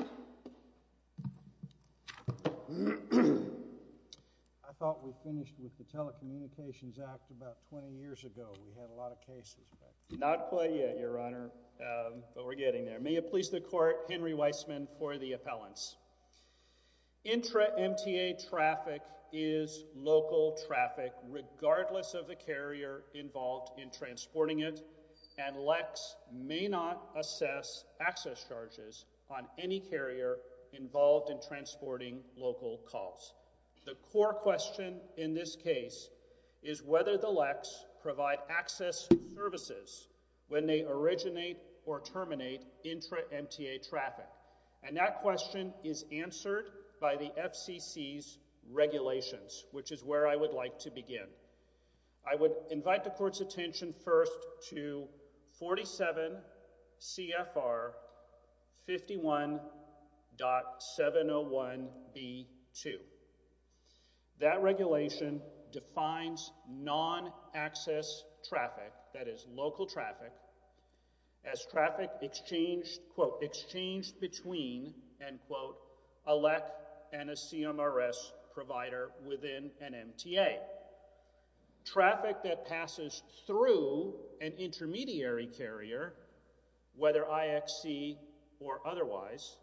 I thought we finished with the Telecommunications Act about 20 years ago, we had a lot of cases. Not quite yet your honor, but we're getting there. May it please the court, Henry Weissman for the appellants. IntraMTA traffic is local traffic regardless of the carrier involved in transporting it and LECs may not assess access charges on any carrier involved in transporting local calls. The core question in this case is whether the LECs provide access services when they originate or terminate IntraMTA traffic and that question is answered by the FCC's regulations which is where I would like to begin. I would invite the court's attention first to 47 CFR 51.701B2. That regulation defines non-access traffic, that is local traffic, as traffic exchanged between a LEC and a CMRS provider within an MTA. Traffic that passes through an intermediary carrier, whether IXC or otherwise,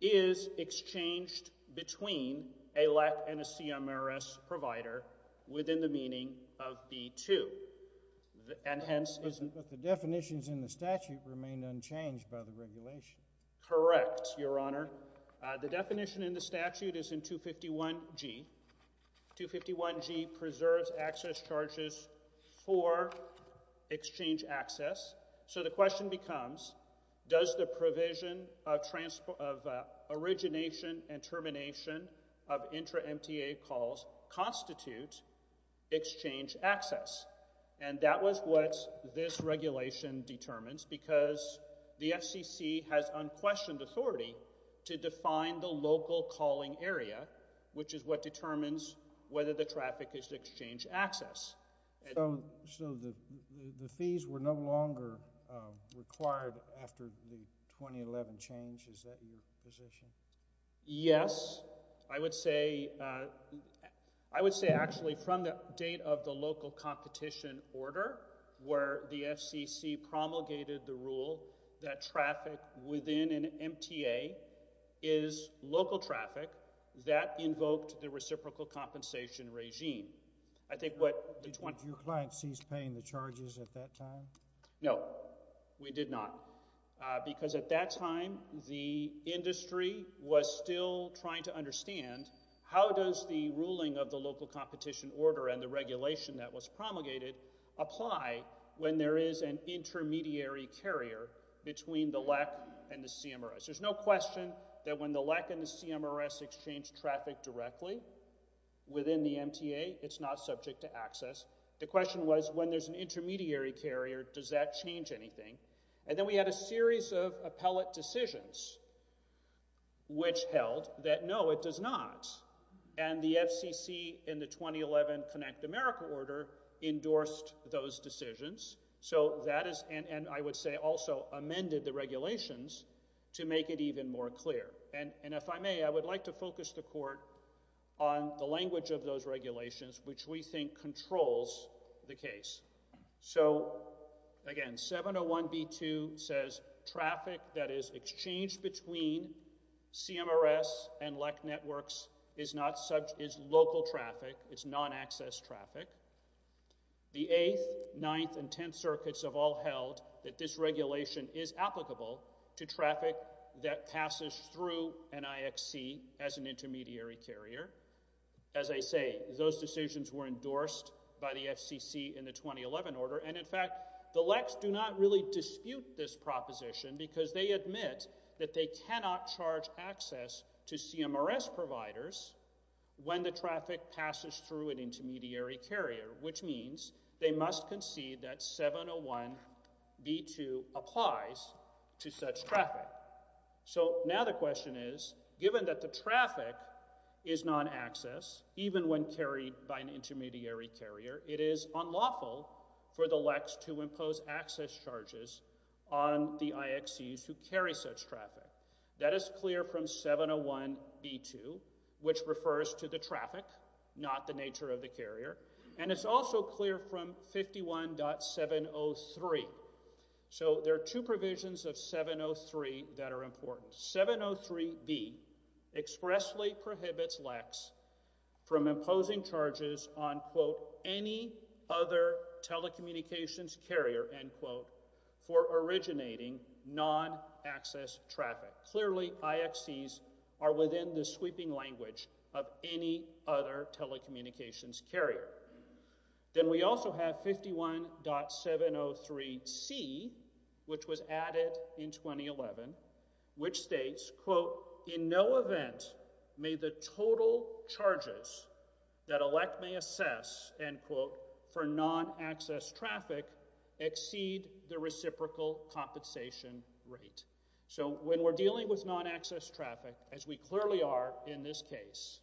is exchanged between a LEC and a CMRS provider within the meaning of B2 and hence is... But the definitions in the statute remain unchanged by the regulation. Correct, your honor. The definition in the statute is in 251G. 251G preserves access charges for exchange access. So the question becomes, does the provision of origination and termination of IntraMTA calls constitute exchange access? And that was what this regulation determines because the FCC has unquestioned authority to define the local calling area which is what determines whether the traffic is exchange access. So the fees were no longer required after the 2011 change, is that your position? Yes, I would say actually from the date of the local competition order where the FCC promulgated the rule that traffic within an MTA is local traffic, that invoked the reciprocal compensation regime. I think what... Did your client cease paying the charges at that time? No, we did not. Because at that time, the industry was still trying to understand how does the ruling of the local competition order and the regulation that was promulgated apply when there is an intermediary carrier between the LEC and the CMRS. There's no question that when the LEC and the CMRS exchange traffic directly within the MTA, it's not subject to access. The question was, when there's an intermediary carrier, does that change anything? And then we had a series of appellate decisions which held that no, it does not. And the FCC in the 2011 Connect America order endorsed those decisions, so that is... And I would say also amended the regulations to make it even more clear. And if I may, I would like to focus the court on the language of those regulations which we think controls the case. So, again, 701B2 says traffic that is exchanged between CMRS and LEC networks is local traffic, it's non-access traffic. The 8th, 9th, and 10th circuits have all held that this regulation is applicable to traffic that passes through an IXC as an intermediary carrier. As I say, those decisions were endorsed by the FCC in the 2011 order, and in fact, the LECs do not really dispute this proposition because they admit that they cannot charge access to CMRS providers when the traffic passes through an intermediary carrier, which means they must concede that 701B2 applies to such traffic. So now the question is, given that the traffic is non-access, even when carried by an intermediary carrier, it is unlawful for the LECs to impose access charges on the IXCs who carry such traffic. That is clear from 701B2, which refers to the traffic, not the nature of the carrier, and it's also clear from 51.703. So there are two provisions of 703 that are important. 703B expressly prohibits LECs from imposing charges on, quote, any other telecommunications carrier, end quote, for originating non-access traffic. Clearly IXCs are within the sweeping language of any other telecommunications carrier. Then we also have 51.703C, which was added in 2011, which states, quote, in no event may the total charges that a LEC may assess, end quote, for non-access traffic exceed the reciprocal compensation rate. So when we're dealing with non-access traffic, as we clearly are in this case,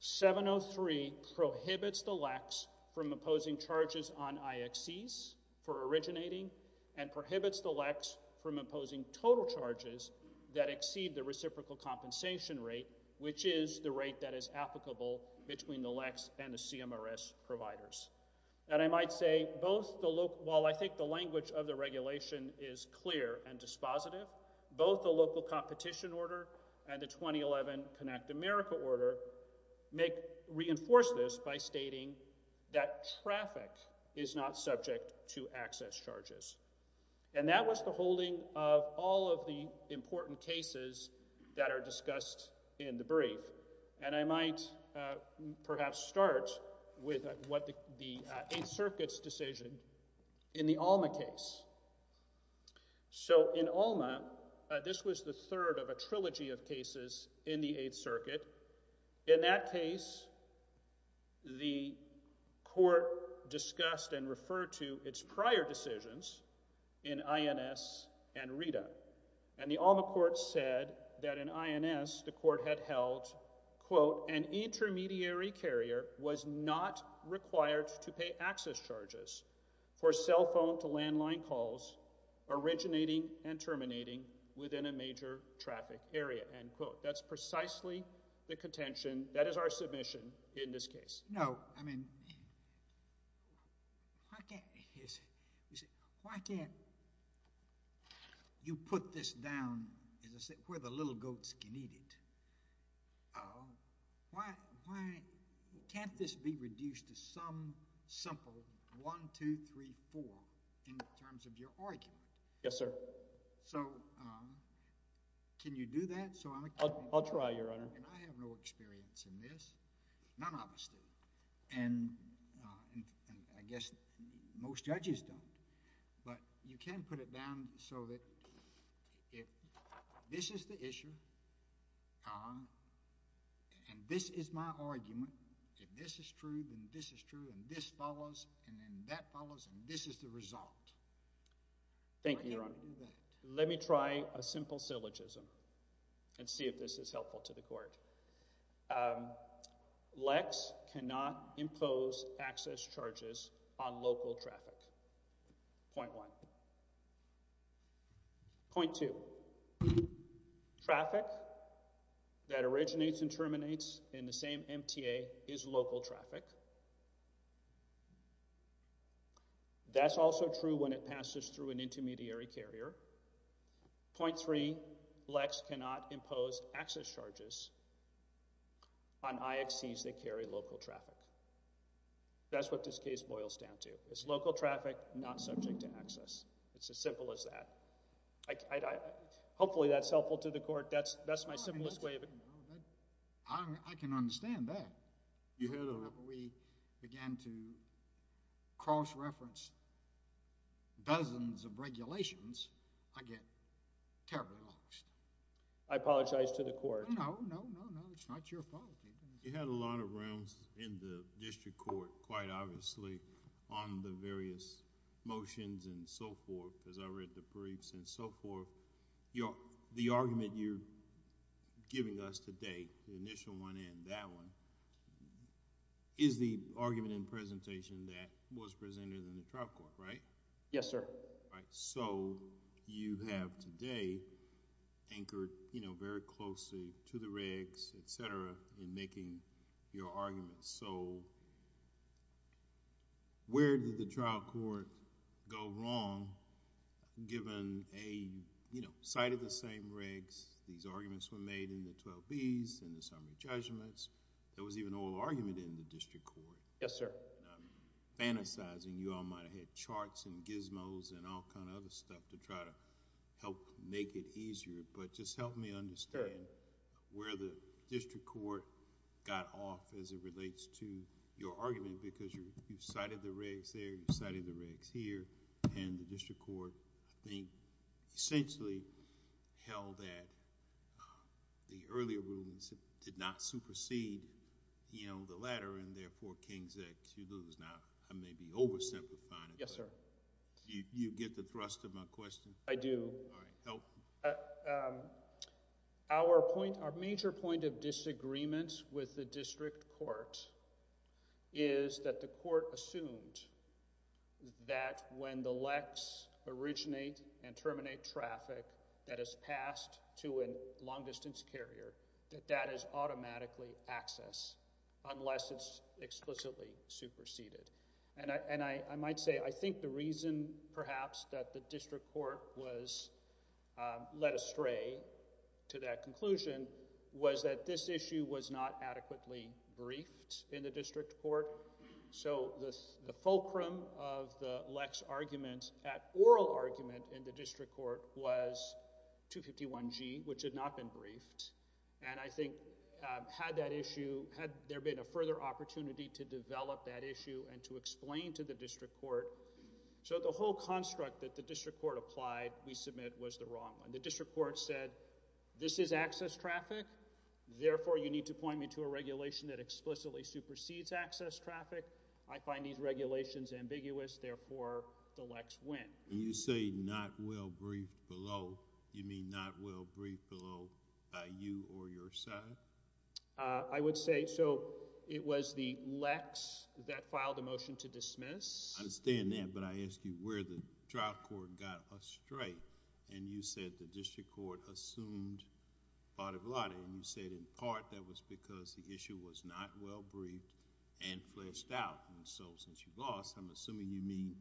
703 prohibits the LECs from imposing charges on IXCs for originating and prohibits the LECs from imposing total charges that exceed the reciprocal compensation rate, which is the rate that is applicable between the LECs and the CMRS providers. And I might say, while I think the language of the regulation is clear and dispositive, both the local competition order and the 2011 Connect America order reinforce this by stating that traffic is not subject to access charges. And that was the holding of all of the important cases that are discussed in the brief. And I might perhaps start with what the Eighth Circuit's decision in the Alma case. So in Alma, this was the third of a trilogy of cases in the Eighth Circuit. In that case, the court discussed and referred to its prior decisions in INS and RETA. And the Alma court said that in INS, the court had held, quote, an intermediary carrier was not required to pay access charges for cell phone to landline calls originating and terminating within a major traffic area, end quote. That's precisely the contention that is our submission in this case. No, I mean, why can't you put this down where the little goats can eat it? Why can't this be reduced to some simple 1, 2, 3, 4 in terms of your argument? Yes, sir. So can you do that? So I'm going to try, Your Honor. And I have no experience in this. None of us do. And I guess most judges don't. But you can put it down so that if this is the issue, and this is my argument, if this is true, then this is true, and this follows, and then that follows, and this is the result. Thank you, Your Honor. Why can't you do that? Let me try a simple syllogism and see if this is helpful to the court. Lex cannot impose access charges on local traffic, point one. Point two, traffic that originates and terminates in the same MTA is local traffic. That's also true when it passes through an intermediary carrier. Point three, Lex cannot impose access charges on IXCs that carry local traffic. That's what this case boils down to. It's local traffic not subject to access. It's as simple as that. Hopefully that's helpful to the court. That's my simplest way of explaining it. I can understand that. You heard it. We began to cross-reference dozens of regulations. I get terribly lost. I apologize to the court. No, no, no, no. It's not your fault. You had a lot of realms in the district court, quite obviously, on the various motions and so forth, as I read the briefs and so forth. The argument you're giving us today, the initial one and that one, is the argument in presentation that was presented in the trial court, right? Yes, sir. You have today anchored very closely to the regs, et cetera, in making your arguments. Where did the trial court go wrong, given a site of the same regs, these arguments were made in the 12Bs and the summary judgments. There was even an oral argument in the district court. Yes, sir. I'm fantasizing. You all might have had charts and gizmos and all kind of other stuff to try to help make it easier, but just help me understand where the district court got off as it relates to your argument because you cited the regs there, you cited the regs here, and the district court, I think, essentially, held that the earlier rulings did not supersede the latter and therefore, King's Act, you lose. Now, I may be over-simplifying it. Yes, sir. You get the thrust of my question? I do. All right. Help me. Our major point of disagreement with the district court is that the court assumed that when the LECs originate and terminate traffic that is passed to a long-distance carrier, that that is automatically access unless it's explicitly superseded. The reason perhaps that the district court was led astray to that conclusion was that this issue was not adequately briefed in the district court. So the fulcrum of the LECs arguments at oral argument in the district court was 251G, which had not been briefed, and I think had that issue, had there been a further opportunity to develop that issue and to explain to the district court. So the whole construct that the district court applied we submit was the wrong one. The district court said, this is access traffic. Therefore, you need to point me to a regulation that explicitly supersedes access traffic. I find these regulations ambiguous. Therefore, the LECs win. When you say not well briefed below, you mean not well briefed below by you or your side? I would say so it was the LECs that filed a motion to dismiss. I understand that, but I ask you where the trial court got astray and you said the district court assumed vada vada and you said in part that was because the issue was not well briefed and fleshed out. So since you've lost, I'm assuming you mean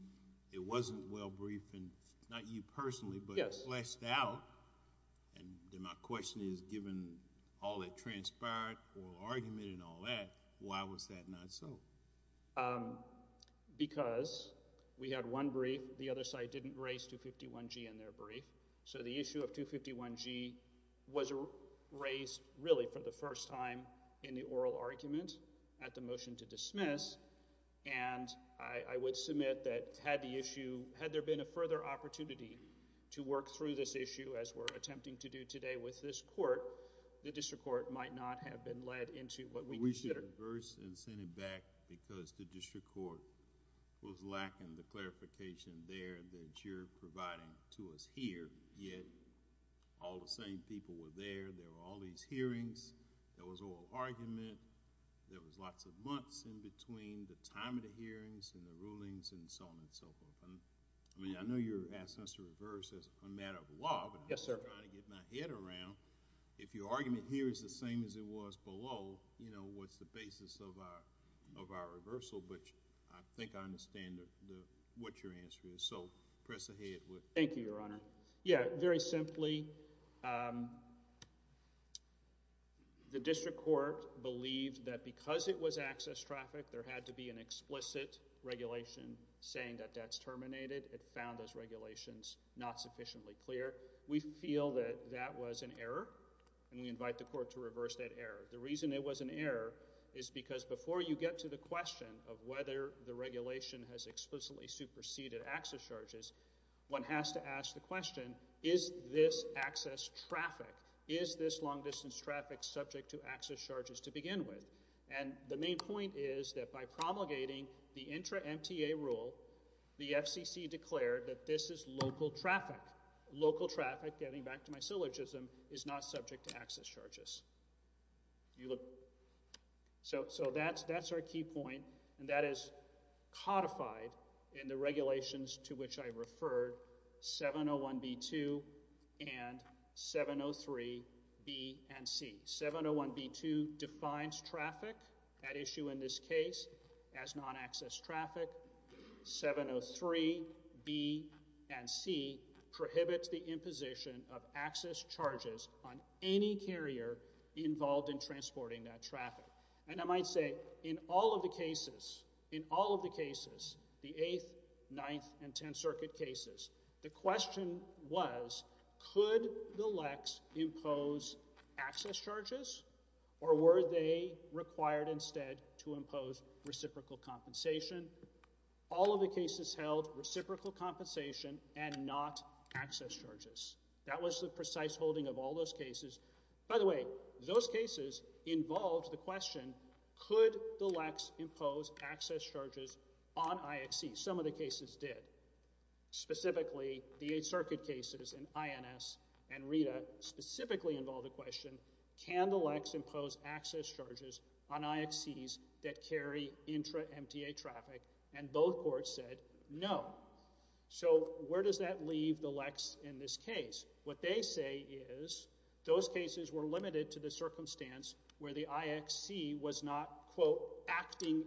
it wasn't well briefed, not you personally, but fleshed out. My question is, given all that transpired, oral argument and all that, why was that not so? Because we had one brief, the other side didn't raise 251G in their brief. So the issue of 251G was raised really for the first time in the oral argument at the motion to dismiss and I would submit that had the issue, had there been a further opportunity to work through this issue as we're attempting to do today with this court, the district court might not have been led We should reverse and send it back because the district court was lacking the clarification there that you're providing to us here yet all the same people were there, there were all these hearings, there was oral argument, there was lots of months in between the time of the hearings and the rulings and so on and so forth. I mean, I know you're asking us to reverse as a matter of law, but I'm trying to get my head around. If your argument here is the same as it was below, what's the basis of our reversal? But I think I understand what your answer is, so press ahead with it. Thank you, Your Honor. Yeah, very simply, the district court believed that because it was access traffic, there had to be an explicit regulation saying that that's terminated. It found those regulations not sufficiently clear. We feel that that was an error and we invite the court to reverse that error. The reason it was an error is because before you get to the question of whether the regulation has explicitly superseded access charges, one has to ask the question, is this access traffic, is this long-distance traffic subject to access charges to begin with? And the main point is that by promulgating the intra-MTA rule, the FCC declared that this is local traffic. Local traffic, getting back to my syllogism, is not subject to access charges. So that's our key point and that is codified in the regulations to which I referred, 701B2 and 703B and C. 701B2 defines traffic, that issue in this case, as non-access traffic. 703B and C prohibits the imposition of access charges on any carrier involved in transporting that traffic. And I might say, in all of the cases, in all of the cases, the 8th, 9th, and 10th Circuit cases, the question was, could the LECs impose access charges or were they required instead to impose reciprocal compensation? All of the cases held reciprocal compensation and not access charges. That was the precise holding of all those cases. By the way, those cases involved the question, could the LECs impose access charges on IXCs? Some of the cases did. Specifically, the 8th Circuit cases in INS and RETA specifically involved the question, can the LECs impose access charges on IXCs that carry intra-MTA traffic? And both courts said no. So where does that leave the LECs in this case? What they say is those cases were limited to the circumstance where the IXC was not acting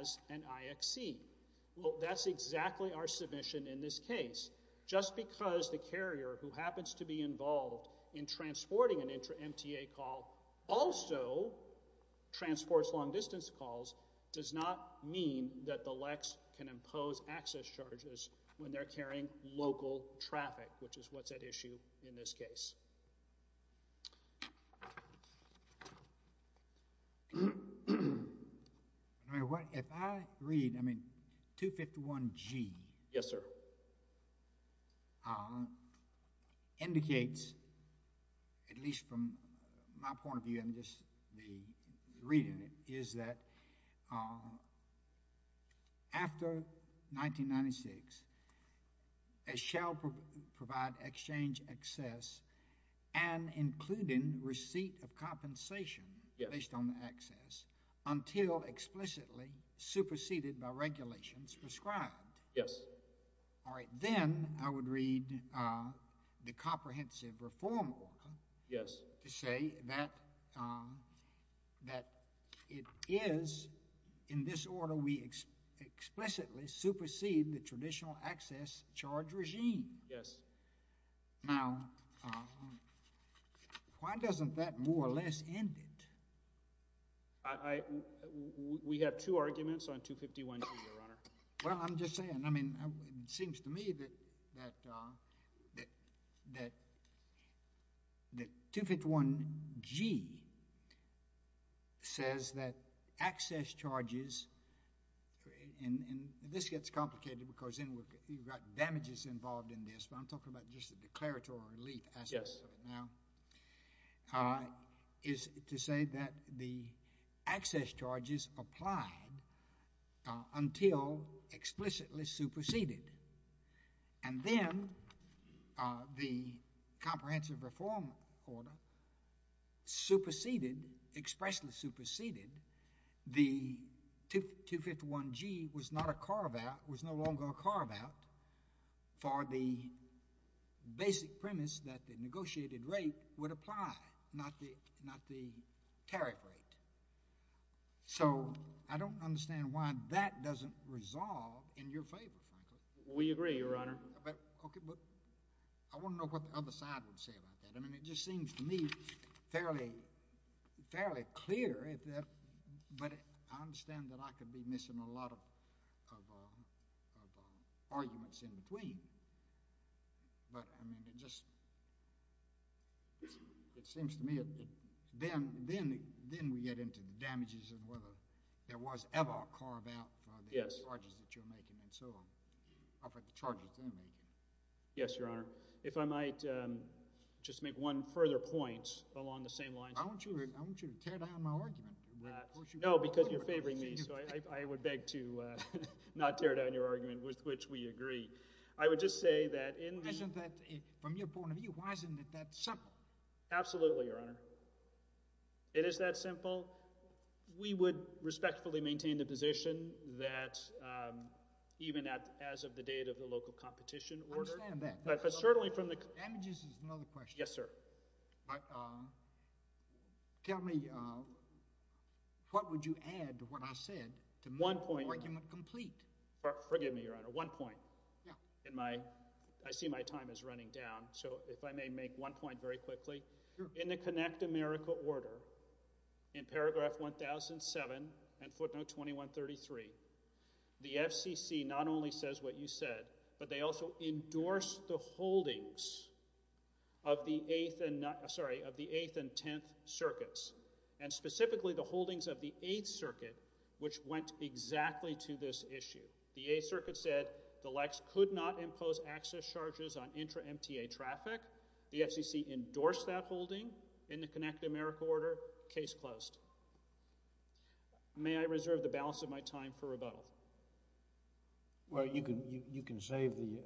as an IXC. That's exactly our submission in this case. Just because the carrier who happens to be involved in transporting an intra-MTA call also transports long distance calls does not mean that the LECs can impose access charges when they're carrying local traffic which is what's at issue in this case. If I read 251G Yes, sir. indicates at least from my point of view and just reading it is that after 1996 it shall provide exchange access and including receipt of compensation based on the access until explicitly superseded by regulations prescribed. Then I would read the comprehensive reform order to say that it is in this order we explicitly supersede the traditional access charge regime. Now why doesn't that more or less end it? We have two arguments on 251G, Your Honor. Well, I'm just saying it seems to me that that that 251G says that access charges and this gets complicated because you've got damages involved in this but I'm talking about just a declaratory relief. Yes. Is to say that the access charges applied until explicitly superseded and then the comprehensive reform order superseded, expressly superseded the 251G was not a carve out, was no longer a carve out for the basic premise that the negotiated rate would apply, not the tariff rate. So I don't understand why that doesn't resolve in your favor, frankly. We agree, Your Honor. I want to know what the other side would say about that. I mean it just seems to me fairly clear but I understand that I could be missing a lot of arguments in between but I mean it just it seems to me then we get into the damages and whether there was ever a carve out for the charges that you're making and so on up at the charges they're making. Yes, Your Honor. If I might just make one further point along the same lines. I want you to tear down my argument. No, because you're favoring me so I would beg to not tear down your argument with which we agree. I would just say that in the... From your point of view, why isn't it that simple? Absolutely, Your Honor. It is that simple. We would respectfully maintain the position that even as of the date of the local competition order... I understand that. But certainly from the... Damages is another question. Yes, sir. Tell me what would you add to what I said to make the argument complete? One point... Forgive me, Your Honor. One point. I see my time is running down so if I may make one point very quickly. In the Connect America order in paragraph 1007 and footnote 2133 the FCC not only says what you said but they also endorsed the holdings of the 8th and 10th circuits and specifically the holdings of the 8th circuit which went exactly to this issue. The 8th circuit said the Lex could not impose access charges on intra-MTA traffic. The FCC endorsed that holding in the Connect America order. Case closed. May I reserve the balance of my time for rebuttal? Well, you can save the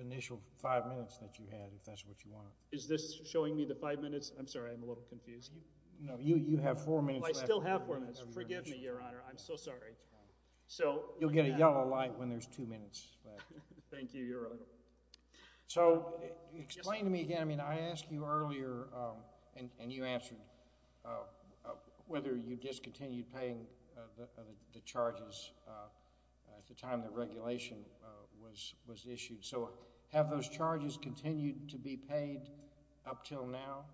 initial 5 minutes that you had if that's what you want. Is this showing me the 5 minutes? I'm sorry, I'm a little confused. No, you have 4 minutes left. I still have 4 minutes. Forgive me, Your Honor. I'm so sorry. You'll get a yellow light when there's 2 minutes left. Thank you, Your Honor. Explain to me again. I asked you earlier and you answered whether you discontinued paying the charges at the time the regulation was issued. Have those charges continued to be paid up till now?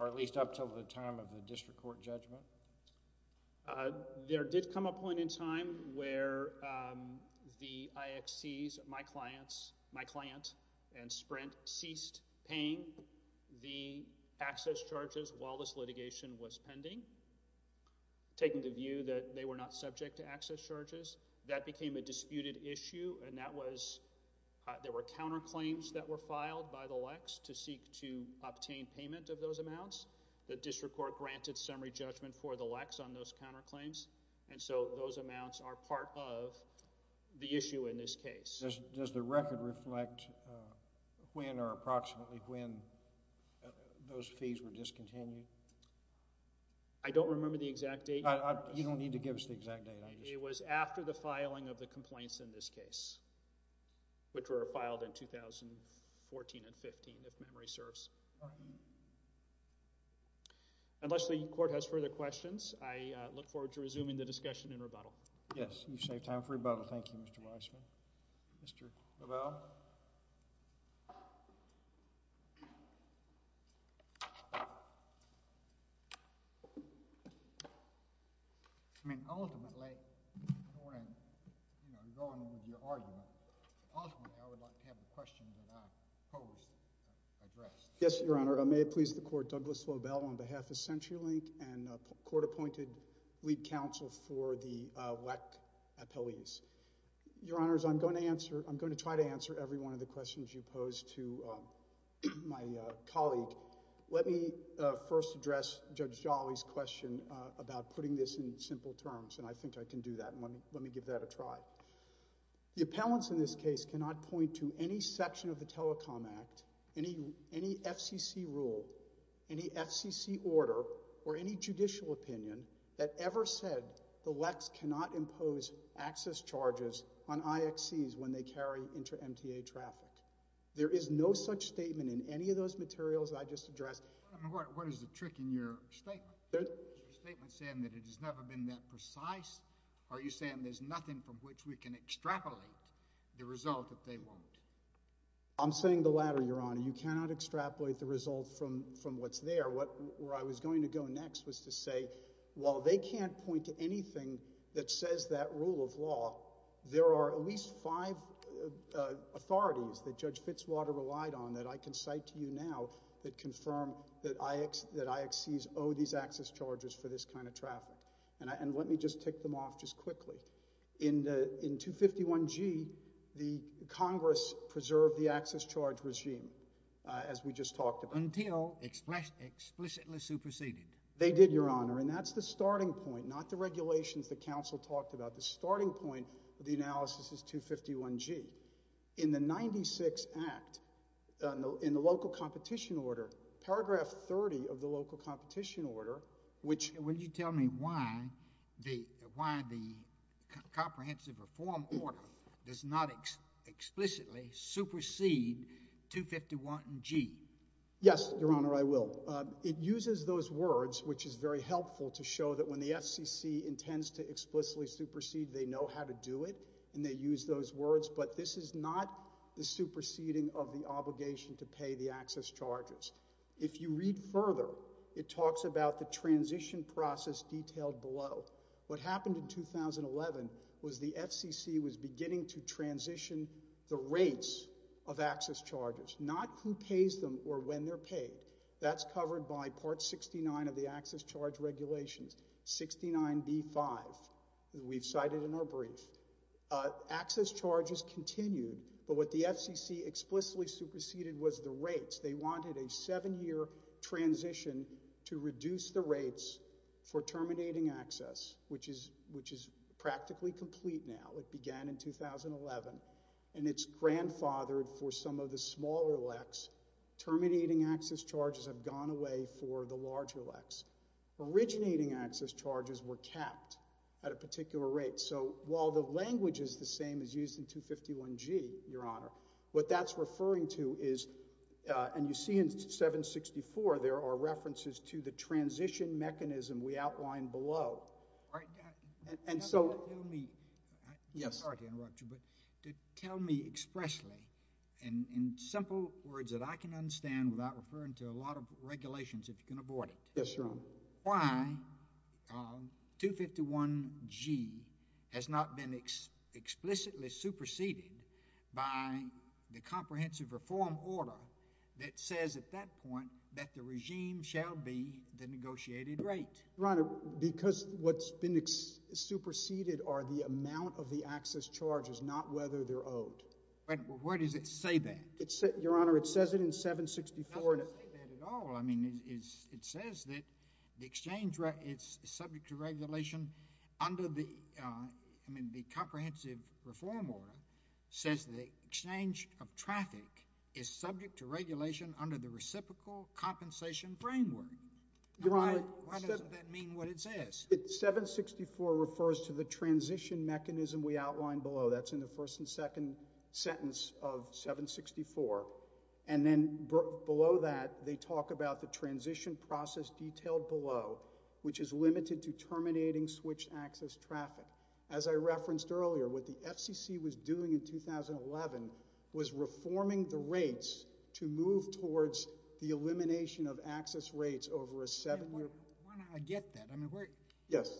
Or at least up till the time of the district court judgment? There did come a point in time where the IXCs, my client and Sprint ceased paying the access charges while this litigation was pending, taking the view that they were not subject to access charges. That became a disputed issue and that was there were counterclaims that were filed by the Lex to seek to obtain payment of those amounts. The district court granted summary judgment for the Lex on those counterclaims and so those amounts are part of the issue in this case. Does the record reflect when or approximately when those fees were discontinued? I don't remember the exact date. You don't need to give us the exact date. It was after the filing of the complaints in this case which were filed in 2014 and 15 if memory serves. Unless the court has further questions I look forward to resuming the discussion in rebuttal. Thank you Mr. Weissman. Mr. Lobel. Ultimately I don't want to go on with your argument but ultimately I would like to have the questions that I posed addressed. May it please the court, Douglas Lobel on behalf of CenturyLink and court appointed lead counsel for the Lex appellees. Your honors, I'm going to try to answer every one of the questions you posed to my colleague. Let me first address Judge Jolly's question about putting this in simple terms and I think I can do that and let me give that a try. The appellants in this case cannot point to any section of the Telecom Act any FCC rule any FCC order or any judicial opinion that ever said the Lex cannot impose access charges on IXCs when they carry inter-MTA traffic. There is no such statement in any of those materials that I just addressed. What is the trick in your statement? Is your statement saying that it has never been that precise? Are you saying there's nothing from which we can extrapolate the result that they won't? I'm saying the latter, your honor. You cannot extrapolate the result from what's there. Where I was going to go next was to say while they can't point to anything that says that rule of law there are at least five authorities that Judge Fitzwater relied on that I can cite to you now that confirm that IXCs owe these access charges for this kind of traffic. Let me just tick them off just quickly. In 251G the Congress preserved the access charge regime as we just talked about. Until explicitly superseded. They did, your honor, and that's the starting point not the regulations the council talked about the starting point of the analysis is 251G. In the 96 Act in the local competition order paragraph 30 of the local competition order which Will you tell me why the comprehensive reform order does not explicitly supersede 251G? Yes, your honor, I will. It uses those words which is very helpful to show that when the FCC intends to explicitly supersede they know how to do it and they use those words but this is not the superseding of the obligation to pay the access charges. If you read further it talks about the transition process detailed below. What happened in 2011 was the FCC was beginning to transition the rates of access charges not who pays them or when they're paid. That's covered by part 69 of the access charge regulations, 69B5 that we've cited in our brief. Access charges continued but what the FCC explicitly superseded was the rates they wanted a 7 year transition to reduce the rates for terminating access which is practically complete now. It began in 2011 and it's grandfathered for some of the smaller LECs. Terminating access charges have gone away for the larger LECs. Originating access charges were capped at a particular rate so while the language is the same as used in 251G, your honor, what that's referring to is and you see in 764 there are references to the transition mechanism we outlined below and so I'm sorry to interrupt you but tell me expressly in simple words that I can understand without referring to a lot of regulations if you can abort it why 251G has not been explicitly superseded by the comprehensive reform order that says at that point that the regime shall be the negotiated rate Your honor, because what's been superseded are the amount of the access charges not whether they're owed. But where does it say that? Your honor, it says it in 764. It doesn't say that at all I mean it says that the exchange is subject to regulation under the I mean the comprehensive reform order says that exchange of traffic is subject to regulation under the reciprocal compensation framework Your honor, why doesn't that mean what it says? 764 refers to the transition mechanism we outlined below that's in the first and second sentence of 764 and then below that they talk about the transition process detailed below which is limited to terminating switch access traffic as I referenced earlier with the FCC was doing in 2011 was reforming the rates to move towards the Why don't I get that? Yes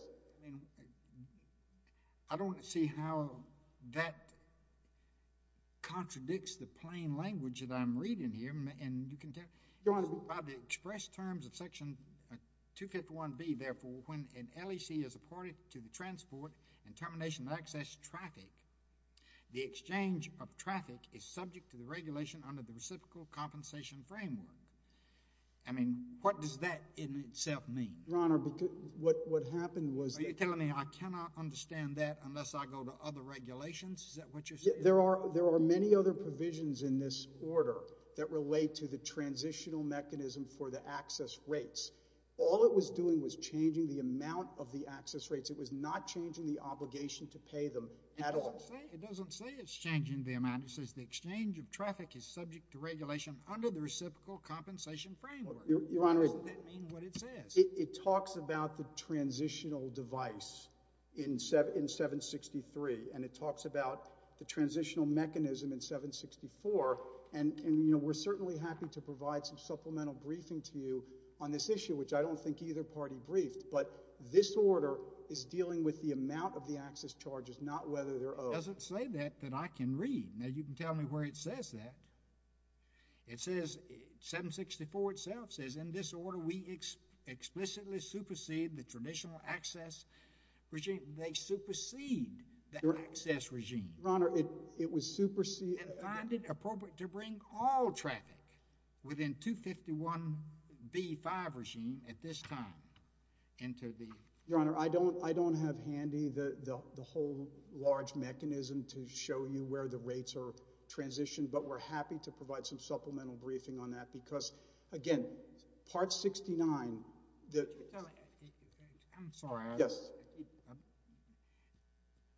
I don't see how that contradicts the plain language that I'm reading here and you can tell by the express terms of section 251B therefore when an LEC is apported to the transport and termination of access traffic the exchange of traffic is subject to the regulation under the reciprocal compensation framework I mean, what does that in itself mean? Your honor what happened was Are you telling me I cannot understand that unless I go to other regulations? Is that what you're saying? There are many other provisions in this order that relate to the transitional mechanism for the access rates All it was doing was changing the amount of the access rates. It was not changing the obligation to pay them at all It doesn't say it's changing the amount It says the exchange of traffic is subject to regulation under the reciprocal compensation framework. Your honor It talks about the transitional device in 763 and it talks about the transitional mechanism in 764 and we're certainly happy to provide some supplemental briefing to you on this issue which I don't think either party briefed but this order is dealing with the amount of the access charges not whether they're owed It doesn't say that that I can read Now you can tell me where it says that It says 764 itself says in this order we explicitly supersede the traditional access regime. They supersede the access regime Your honor it was supersede And find it appropriate to bring all traffic within 251 B5 regime at this time into the Your honor I don't have handy the whole large mechanism to show you where the rates are transitioned but we're happy to provide some supplemental briefing on that because again part 69 I'm sorry Yes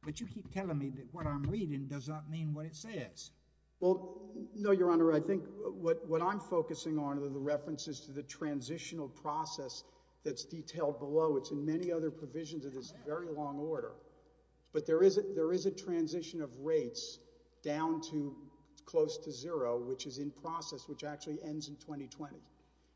But you keep telling me that what I'm reading does not mean what it says No your honor I think what I'm focusing on are the references to the transitional process that's detailed below. It's in many other provisions of this very long order But there is a transition of rates down to close to zero which is in process which actually ends in 2020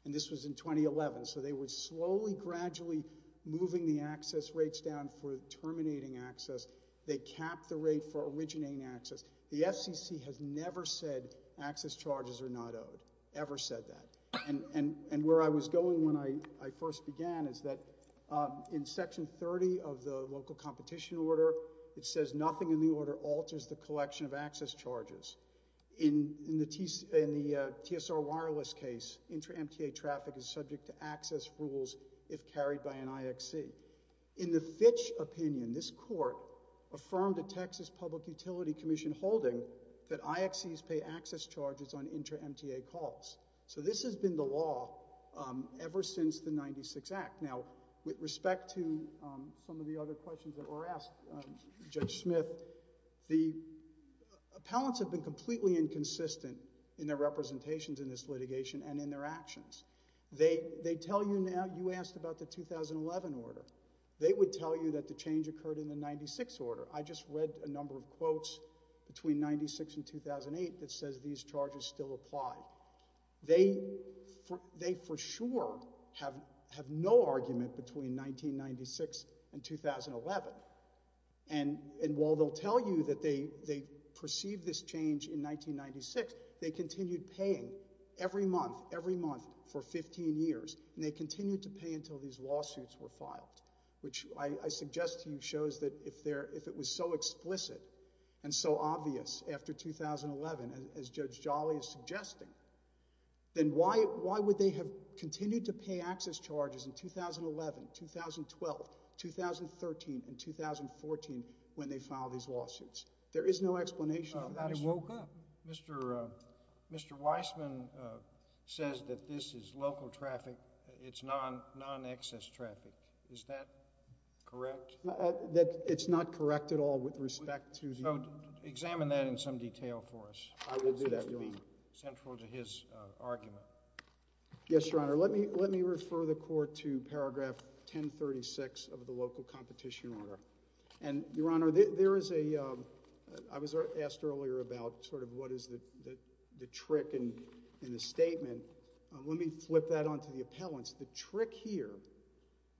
And this was in 2011 So they were slowly gradually moving the access rates down for terminating access They capped the rate for originating access The FCC has never said access charges are not owed Ever said that And where I was going when I first began is that In section 30 of the local competition order it says nothing in the order alters the collection of access charges In the TSR wireless case intra MTA traffic is subject to access rules if carried by an IXC In the Fitch opinion this court affirmed a Texas public utility commission holding that IXCs pay access charges on intra MTA calls So this has been the law ever since the 96 act Now with respect to some of the other questions that were asked Judge Smith The appellants have been completely inconsistent in their representations in this litigation and in their actions You asked about the 2011 order. They would tell you that the change occurred in the 96 order I just read a number of quotes between 96 and 2008 that says these charges still apply They for sure have no argument between 1996 and 2011 and while they'll tell you that they perceived this change in 1996 they continued paying every month every month for 15 years and they continued to pay until these lawsuits were filed which I suggest to you shows that if it was so explicit and so obvious after 2011 as Judge Jolly is suggesting then why would they have continued to pay access charges in 2011, 2012 2013 and 2014 when they filed these lawsuits There is no explanation for that Mr. Weissman says that this is local traffic It's non-access traffic Is that correct? It's not correct at all with respect to Examine that in some detail for us central to his argument Yes, Your Honor Let me refer the court to paragraph 1036 of the local competition order Your Honor I was asked earlier about the trick in the statement Let me flip that onto the appellants The trick here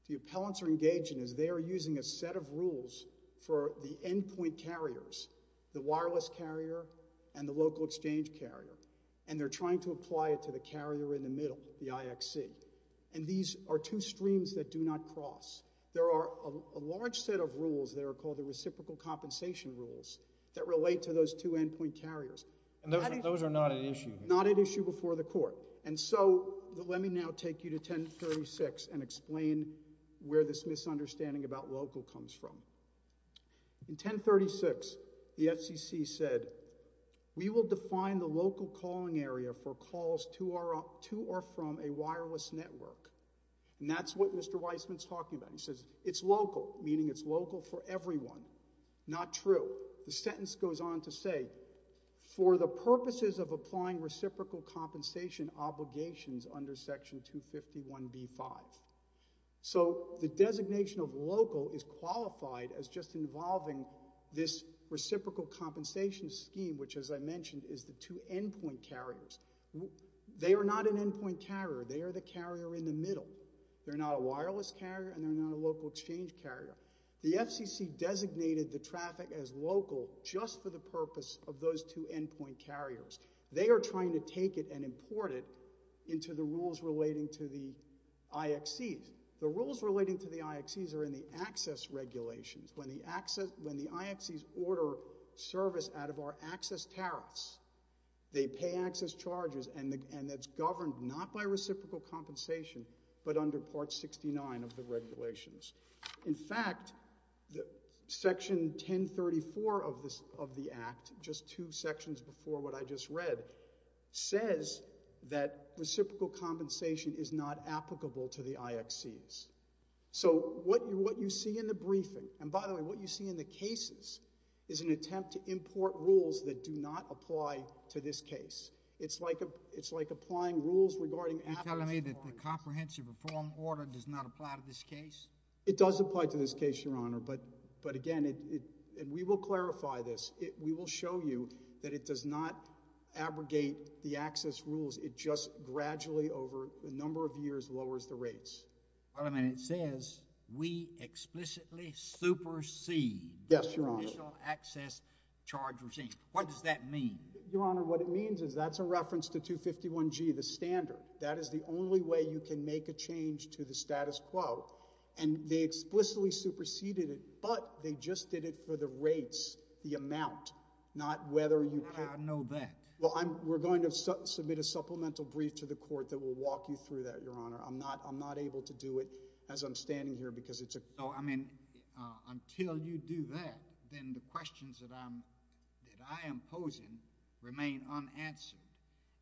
The appellants are engaging They are using a set of rules for the end point carriers the wireless carrier and the local exchange carrier and they are trying to apply it to the carrier in the middle, the IXC These are two streams that do not cross There are a large set of rules that are called the reciprocal compensation rules that relate to those two end point carriers Those are not at issue before the court Let me now take you to 1036 and explain where this misunderstanding about local comes from In 1036 the FCC said We will define the local calling area for calls to or from a wireless network and that's what Mr. Weissman is talking about It's local, meaning it's local for everyone Not true The sentence goes on to say For the purposes of applying reciprocal compensation obligations under section 251b-5 So the designation of local is qualified as just involving this reciprocal compensation scheme which as I mentioned is the two end point carriers They are not an end point carrier They are the carrier in the middle They are not a wireless carrier and they are not a local exchange carrier The FCC designated the traffic as local just for the purpose of those two end point carriers They are trying to take it and import it into the rules relating to the IXCs The rules relating to the IXCs are in the access regulations When the IXCs order service out of our access tariffs they pay access charges and it's governed not by reciprocal compensation but under part 69 of the regulations In fact section 1034 of the act just two sections before what I just read says that reciprocal compensation is not applicable to the IXCs So what you see in the briefing and by the way what you see in the cases is an attempt to import rules that do not apply to this case It's like applying rules regarding... Are you telling me that the comprehensive reform order does not apply to this case? It does apply to this case your honor but again and we will clarify this we will show you that it does not abrogate the access rules it just gradually over a number of years lowers the rates Wait a minute it says we explicitly supersede Yes your honor the initial access charge regime What does that mean? Your honor what it means is that's a reference to 251G the standard that is the only way you can make a change to the status quo and they explicitly superseded it but they just did it for the rates the amount I know that We're going to submit a supplemental brief to the court that will walk you through that I'm not able to do it as I'm standing here until you do that then the questions that I am posing remain unanswered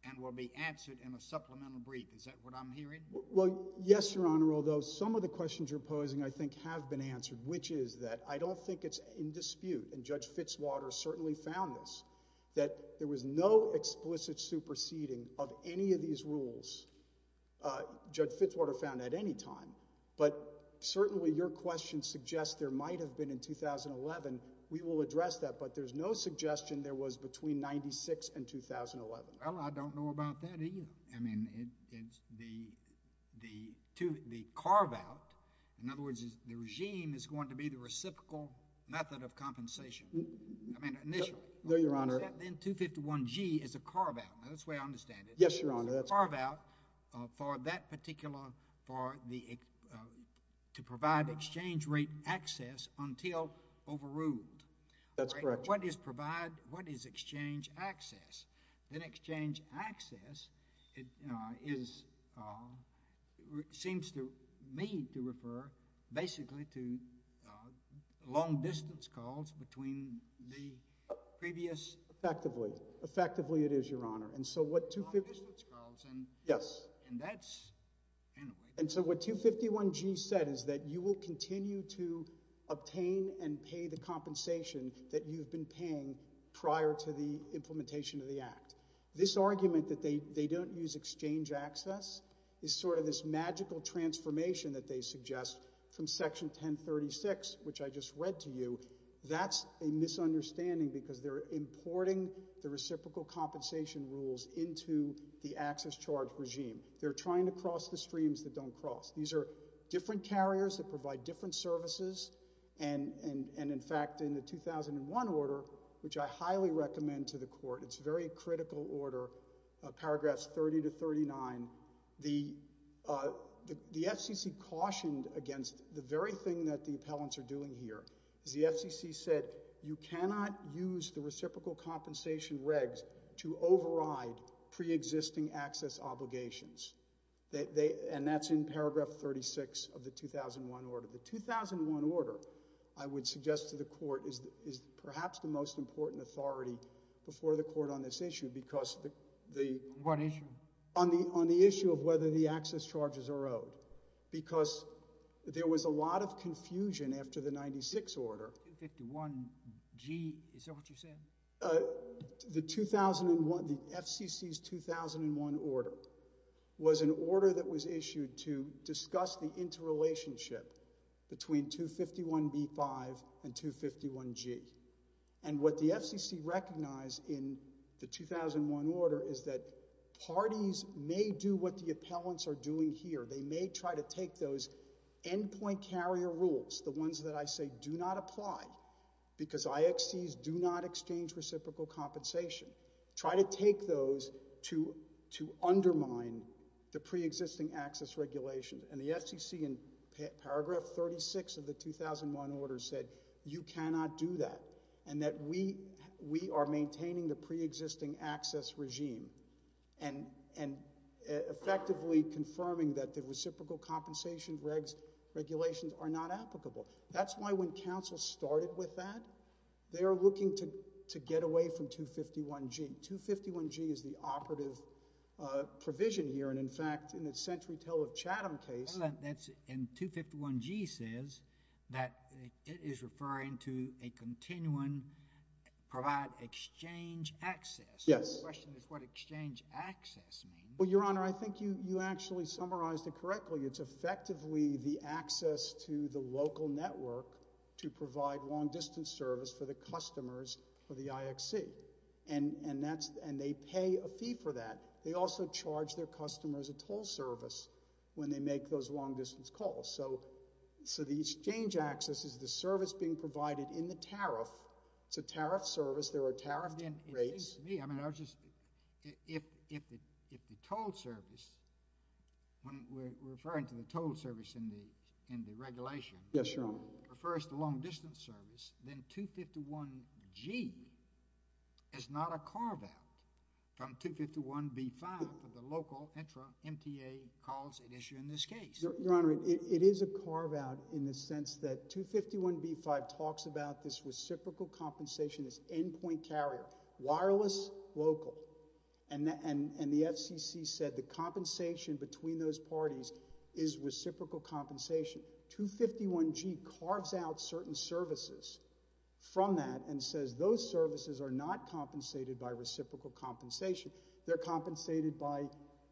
is that what I'm hearing? Yes your honor although some of the questions you're posing I think have been answered which is that I don't think it's in dispute and Judge Fitzwater certainly found this that there was no explicit superseding of any of these rules Judge Fitzwater found at any time but certainly your question suggests there might have been in 2011 we will address that but there's no suggestion there was between 96 and 2011 I don't know about that either I mean the carve out in other words the regime is going to be the reciprocal method of compensation I mean initially is that then 251G is a carve out that's the way I understand it carve out for that particular to provide exchange rate access until overruled what is exchange access then exchange access is seems to me to refer basically to long distance calls between the previous effectively it is your honor and so what yes and so what 251G said is that you will continue to obtain and pay the compensation that you've been paying prior to the implementation of the act this argument that they don't use exchange access is sort of this magical transformation that they suggest from section 1036 which I just read to you, that's a misunderstanding because they're importing the reciprocal compensation rules into the access charge regime, they're trying to cross the streams that don't cross, these are different carriers that provide different services and in fact in the 2001 order which I highly recommend to the court it's a very critical order paragraphs 30-39 the FCC cautioned against the very thing that the appellants are doing here the FCC said you cannot use the reciprocal compensation regs to override pre-existing access obligations and that's in paragraph 36 of the 2001 order the 2001 order I would suggest to the court is perhaps the most important authority before the court on this issue on what issue? on the issue of whether the access charges are owed because there was a lot of confusion after the 96 order 51g, is that what you're saying? the 2001 the FCC's 2001 order was an order that was issued to between 251b-5 and 251g and what the FCC recognized in the 2001 order is that parties may do what the appellants are doing here they may try to take those end point carrier rules the ones that I say do not apply because IXCs do not exchange reciprocal compensation try to take those to undermine the pre-existing access regulations and the FCC in paragraph 36 of the 2001 order said you cannot do that and that we are maintaining the pre-existing access regime and effectively confirming that the reciprocal compensation regulations are not applicable that's why when council started with that, they are looking to get away from 251g 251g is the operative provision here and in fact in the century tale of Chatham case and 251g says that it is referring to a continuing provide exchange access, the question is what exchange access means I think you actually summarized it correctly it's effectively the access to the local network to provide long distance service for the customers of the IXC and they pay a fee for that they also charge their customers a toll service when they make those long distance calls so the exchange access is the service being provided in the tariff it's a tariff service, there are tariff rates if the toll service referring to the toll service in the regulation refers to long distance service then 251g is not a carve out from 251b5 for the local intra MTA calls issued in this case your honor, it is a carve out in the sense that 251b5 talks about this reciprocal compensation this end point carrier wireless local and the FCC said the compensation between those parties is reciprocal compensation 251g carves out certain services from that and says those services are not compensated by reciprocal compensation, they're compensated by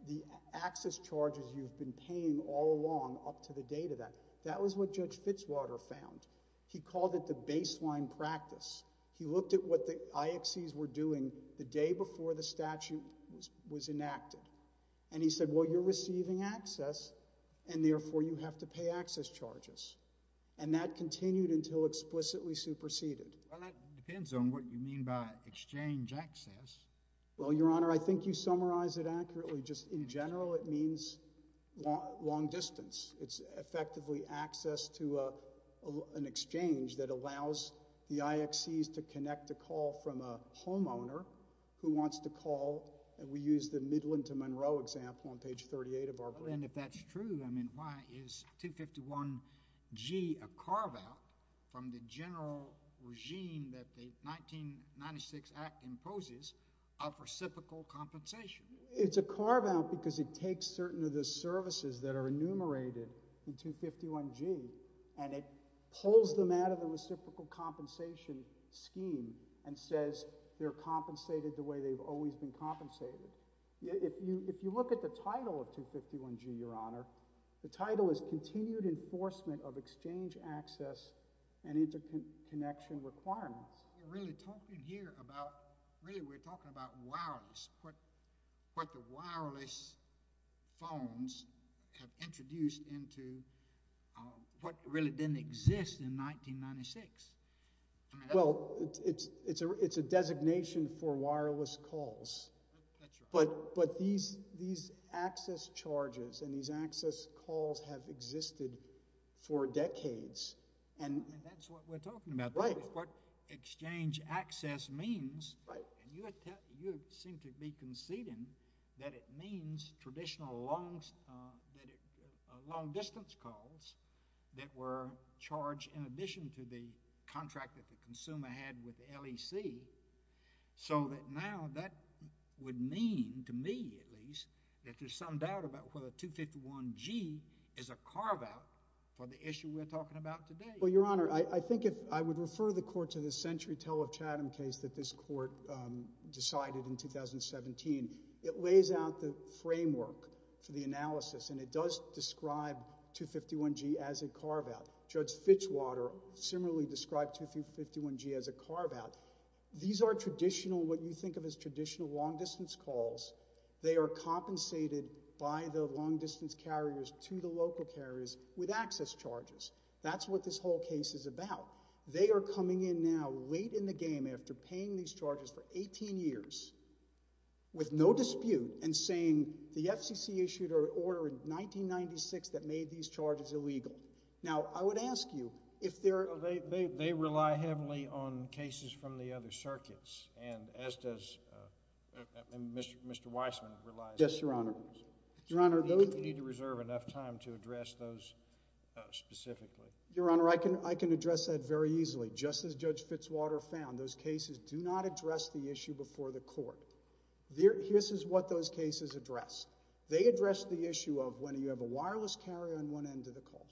the access charges you've been paying all along up to the date of that, that was what judge Fitzwater found, he called it the baseline practice he looked at what the IXCs were doing the day before the statute was enacted and he said well you're receiving access and therefore you have to pay access charges, and that continued until explicitly superseded well that depends on what you mean by exchange access well your honor, I think you summarized it accurately just in general it means long distance it's effectively access to an exchange that allows the IXCs to connect a call from a homeowner who wants to call we use the Midland to Monroe example on page 38 of our bill and if that's true, why is 251g a carve out from the general regime that the 1996 act imposes of reciprocal compensation? It's a carve out because it takes certain of the services that are enumerated in 251g and it pulls them out of the reciprocal compensation scheme and says they're compensated the way they've always been compensated if you look at the title of 251g your honor the title is continued enforcement of exchange access and interconnection requirements you're really talking here about really we're talking about wireless what the wireless phones have introduced into what really didn't exist in 1996 well it's a designation for wireless calls but these access charges and these access calls have existed for decades and that's what we're talking about what exchange access means you seem to be conceding that it means traditional long distance calls that were charged in addition to the contract that the consumer had with the LEC so that now that would mean to me at least that there's some doubt about whether 251g is a carve out for the issue we're talking about today well your honor I think I would refer the court to the century tell of Chatham case that this court decided in 2017 it lays out the framework for the analysis and it does describe 251g as a carve out judge Fitchwater similarly described 251g as a carve out these are traditional what you think of as traditional long distance calls they are compensated by the long distance carriers to the local carriers with access charges that's what this whole case is about they are coming in now late in the game after paying these charges for 18 years with no dispute and saying the FCC issued an order in 1996 that made these charges illegal now I would ask you if there are they rely heavily on cases from the other circuits and as does Mr. Weissman yes your honor you need to reserve enough time to address those specifically your honor I can address that very easily just as judge Fitchwater found those cases do not address the issue before the court this is what those cases address they address the issue of when you have a wireless carrier on one end of the call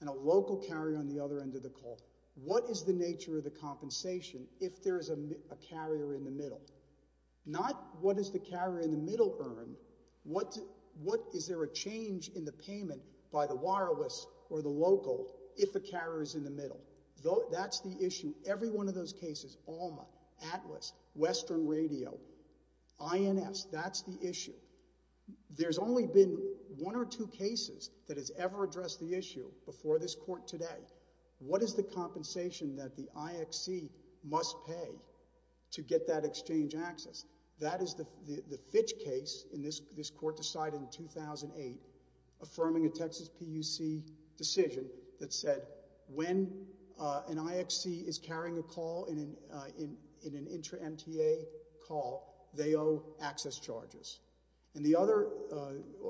and a local carrier on the other end of the call what is the nature of the compensation if there is a carrier in the middle not what does the carrier in the middle earn what is there a change in the payment by the wireless or the local if the carrier is in the middle that's the issue every one of those cases Alma, Atlas, Western Radio INS that's the issue there's only been one or two cases that has ever addressed the issue before this court today what is the compensation that the IXC must pay to get that exchange access that is the Fitch case this court decided in 2008 affirming a Texas PUC decision that said when an IXC is carrying a call in an intra MTA call they owe access charges and the other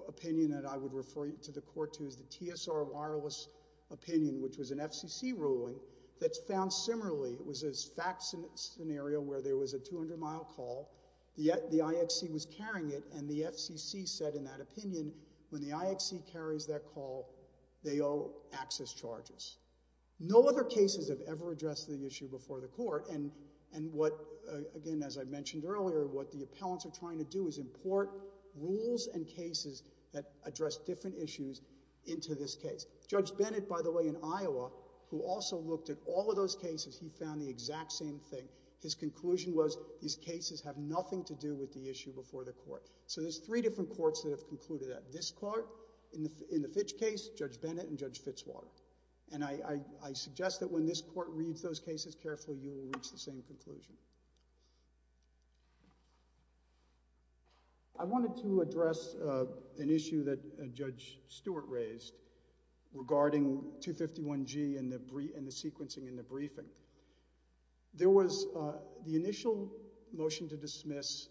opinion that I would refer you to the court to is the TSR wireless opinion which was an FCC ruling that's found similarly where there was a 200 mile call the IXC was carrying it and the FCC said in that opinion when the IXC carries that call they owe access charges no other cases have ever addressed the issue before the court and what again as I mentioned earlier what the appellants are trying to do is import rules and cases that address different issues into this case Judge Bennett by the way in Iowa who also looked at all of those cases he found the exact same thing his conclusion was these cases have nothing to do with the issue before the court so there's three different courts that have concluded that this court, in the Fitch case Judge Bennett and Judge Fitzwater and I suggest that when this court reads those cases carefully you will reach the same conclusion I wanted to address an issue that Judge Stewart raised regarding 251G and the sequencing and the briefing there was the initial motion to dismiss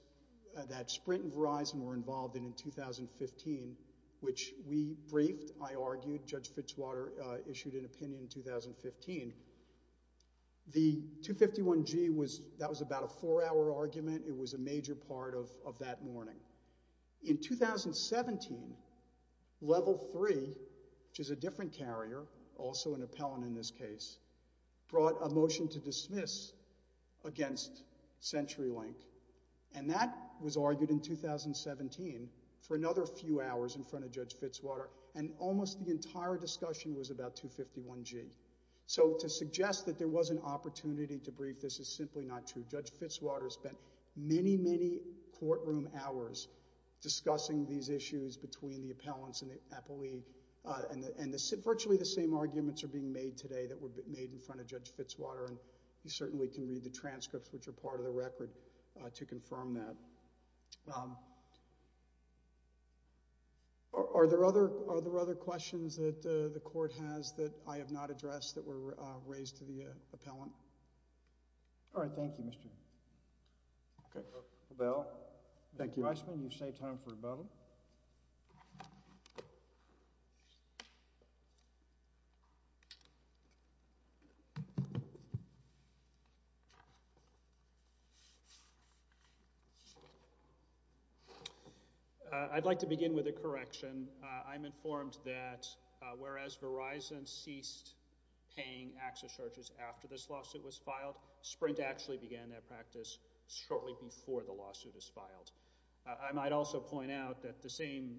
that Sprint and Verizon were involved in in 2015 which we briefed, I argued Judge Fitzwater issued an opinion in 2015 the 251G that was about a four hour argument it was a major part of that morning in 2017 level 3 which is a different carrier also an appellant in this case brought a motion to dismiss against CenturyLink and that was argued in 2017 for another few hours in front of Judge Fitzwater and almost the entire discussion was about 251G so to suggest that there was an opportunity to brief this is simply not true Judge Fitzwater spent many many courtroom hours discussing these issues between the appellants and the appellee and virtually the same arguments are being made today that were made in front of Judge Fitzwater and you certainly can read the transcripts which are part of the record to confirm that Are there other questions that the court has that I have not addressed that were raised to the appellant Alright, thank you Mr. Thank you Thank you I'd like to begin with a correction I'm informed that whereas Verizon ceased paying access charges after this lawsuit was filed Sprint actually began that practice shortly before the lawsuit was filed I might also point out that the same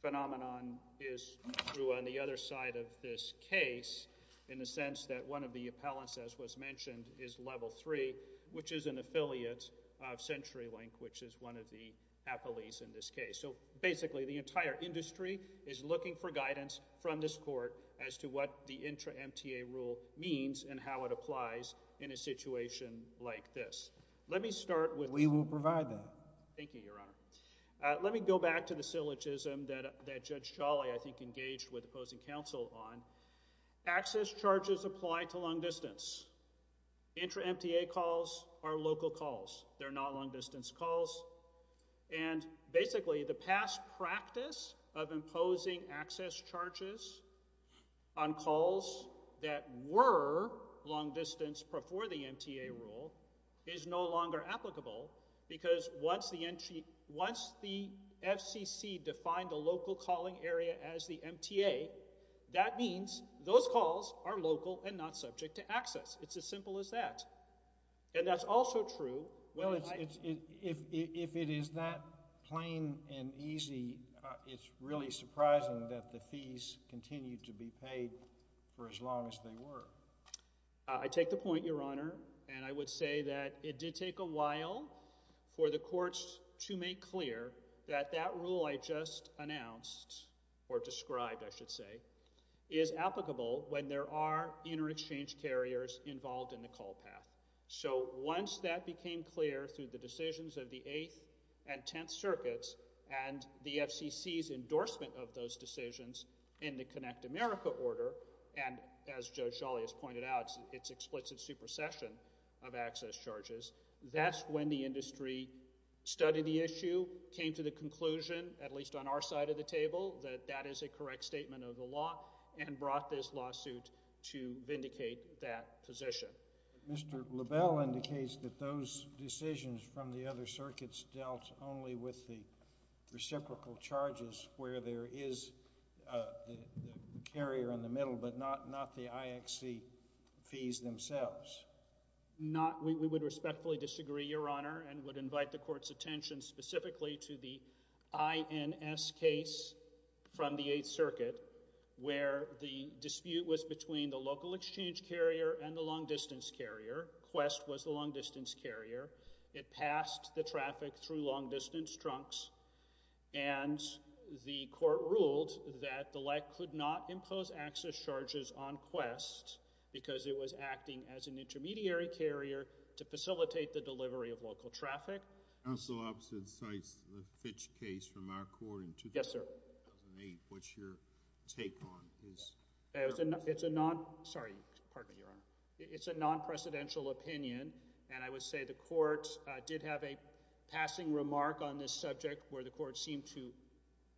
phenomenon is true on the other side of this case in the sense that one of the appellants as was mentioned is Level 3 which is an affiliate of CenturyLink which is one of the appellees in this case so basically the entire industry is looking for guidance from this court as to what the intra-MTA rule means and how it applies in a situation like this Let me start with We will provide that Let me go back to the syllogism that Judge Chollet I think engaged with opposing counsel on access charges apply to long distance intra-MTA calls are local calls they're not long distance calls and basically the past practice of imposing access charges on calls that were long distance before the MTA rule is no longer applicable because once the FCC defined the local calling area as the MTA that means those calls are local and not subject to access. It's as simple as that and that's also true Well if it is that plain and easy it's really surprising that the fees continue to be paid for as long as they were. I take the point your honor and I would say that it did take a while for the courts to make clear that that rule I just announced or described I should say is applicable when there are inter-exchange carriers involved in the call path so once that became clear through the decisions of the 8th and 10th circuits and the FCC's endorsement of those decisions in the Connect America order and as Judge Jolley has pointed out it's explicit supersession of access charges. That's when the industry studied the issue came to the conclusion at least on our side of the table that that is a correct statement of the law and brought this lawsuit to vindicate that position Mr. LaBelle indicates that those decisions from the other circuits dealt only with the reciprocal charges where there is the carrier in the middle but not the IXC fees themselves We would respectfully disagree your honor and would invite the courts attention specifically to the INS case from the 8th circuit where the dispute was between the local exchange carrier and the long distance carrier Quest was the long distance carrier It passed the traffic through long distance trunks and the court ruled that the LEC could not impose access charges on Quest because it was acting as an intermediary carrier to facilitate the delivery of local traffic Counsel opposite cites the Fitch case from our court in 2008. What's your take on this? It's a non, sorry pardon me your honor, it's a non-presidential opinion and I would say the court did have a passing remark on this subject where the court seemed to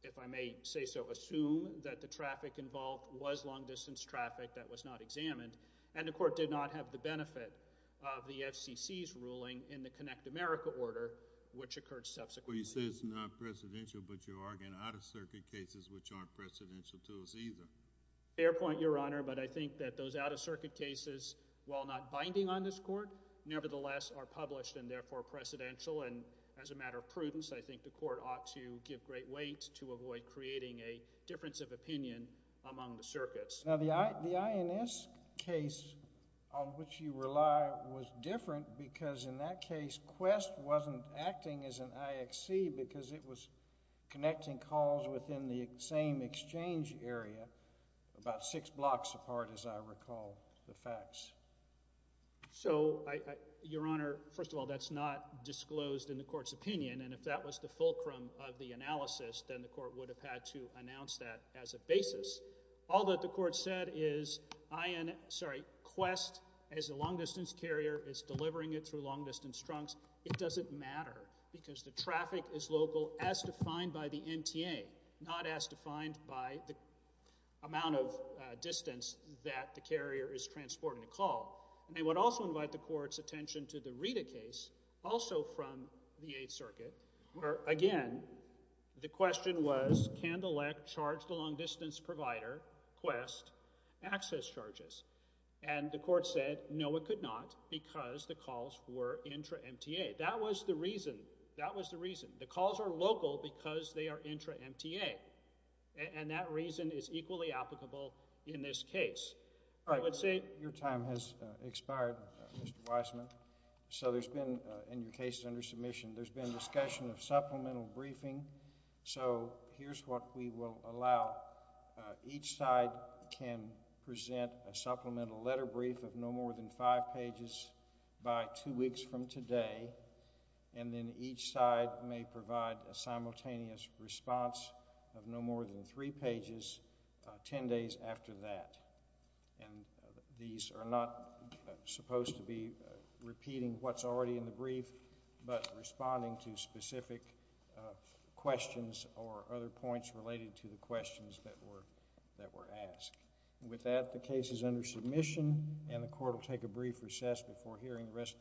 if I may say so assume that the traffic involved was long distance traffic that was not examined and the court did not have the benefit of the FCC's ruling in the Connect America order which occurred subsequently You say it's non-presidential but you're arguing out of circuit cases which aren't presidential to us either. Fair point your honor but I think that those out of circuit cases while not binding on this court nevertheless are published and therefore presidential and as a matter of prudence I think the court ought to give great weight to avoid creating a difference of opinion among the circuits Now the INS case on which you rely was different because in that case Quest wasn't acting as an IXC because it was connecting calls within the same exchange area about six blocks apart as I recall the facts So your honor first of all that's not disclosed in the court's opinion and if that was the fulcrum of the analysis then the court would have had to announce that as a basis. All that the court said is Quest as a long distance carrier is delivering it through long distance trunks. It doesn't matter because the traffic is local as defined by the MTA not as defined by the distance that the carrier is transporting the call. They would also invite the court's attention to the Rita case also from the 8th circuit where again the question was can the LEC charge the long distance provider Quest access charges and the court said no it could not because the calls were intra MTA that was the reason the calls are local because they are intra MTA and that reason is equally applicable in this case Your time has expired Mr. Weissman so there's been in your case under submission there's been discussion of supplemental briefing so here's what we will allow each side can present a supplemental letter brief of no more than five pages by two weeks from today and then each side may provide a simultaneous response of no more than three pages ten days after that and these are not supposed to be repeating what's already in the brief but responding to specific questions or other points related to the questions that were asked with that the case is under submission and the court will take a brief recess before hearing the rest of the docket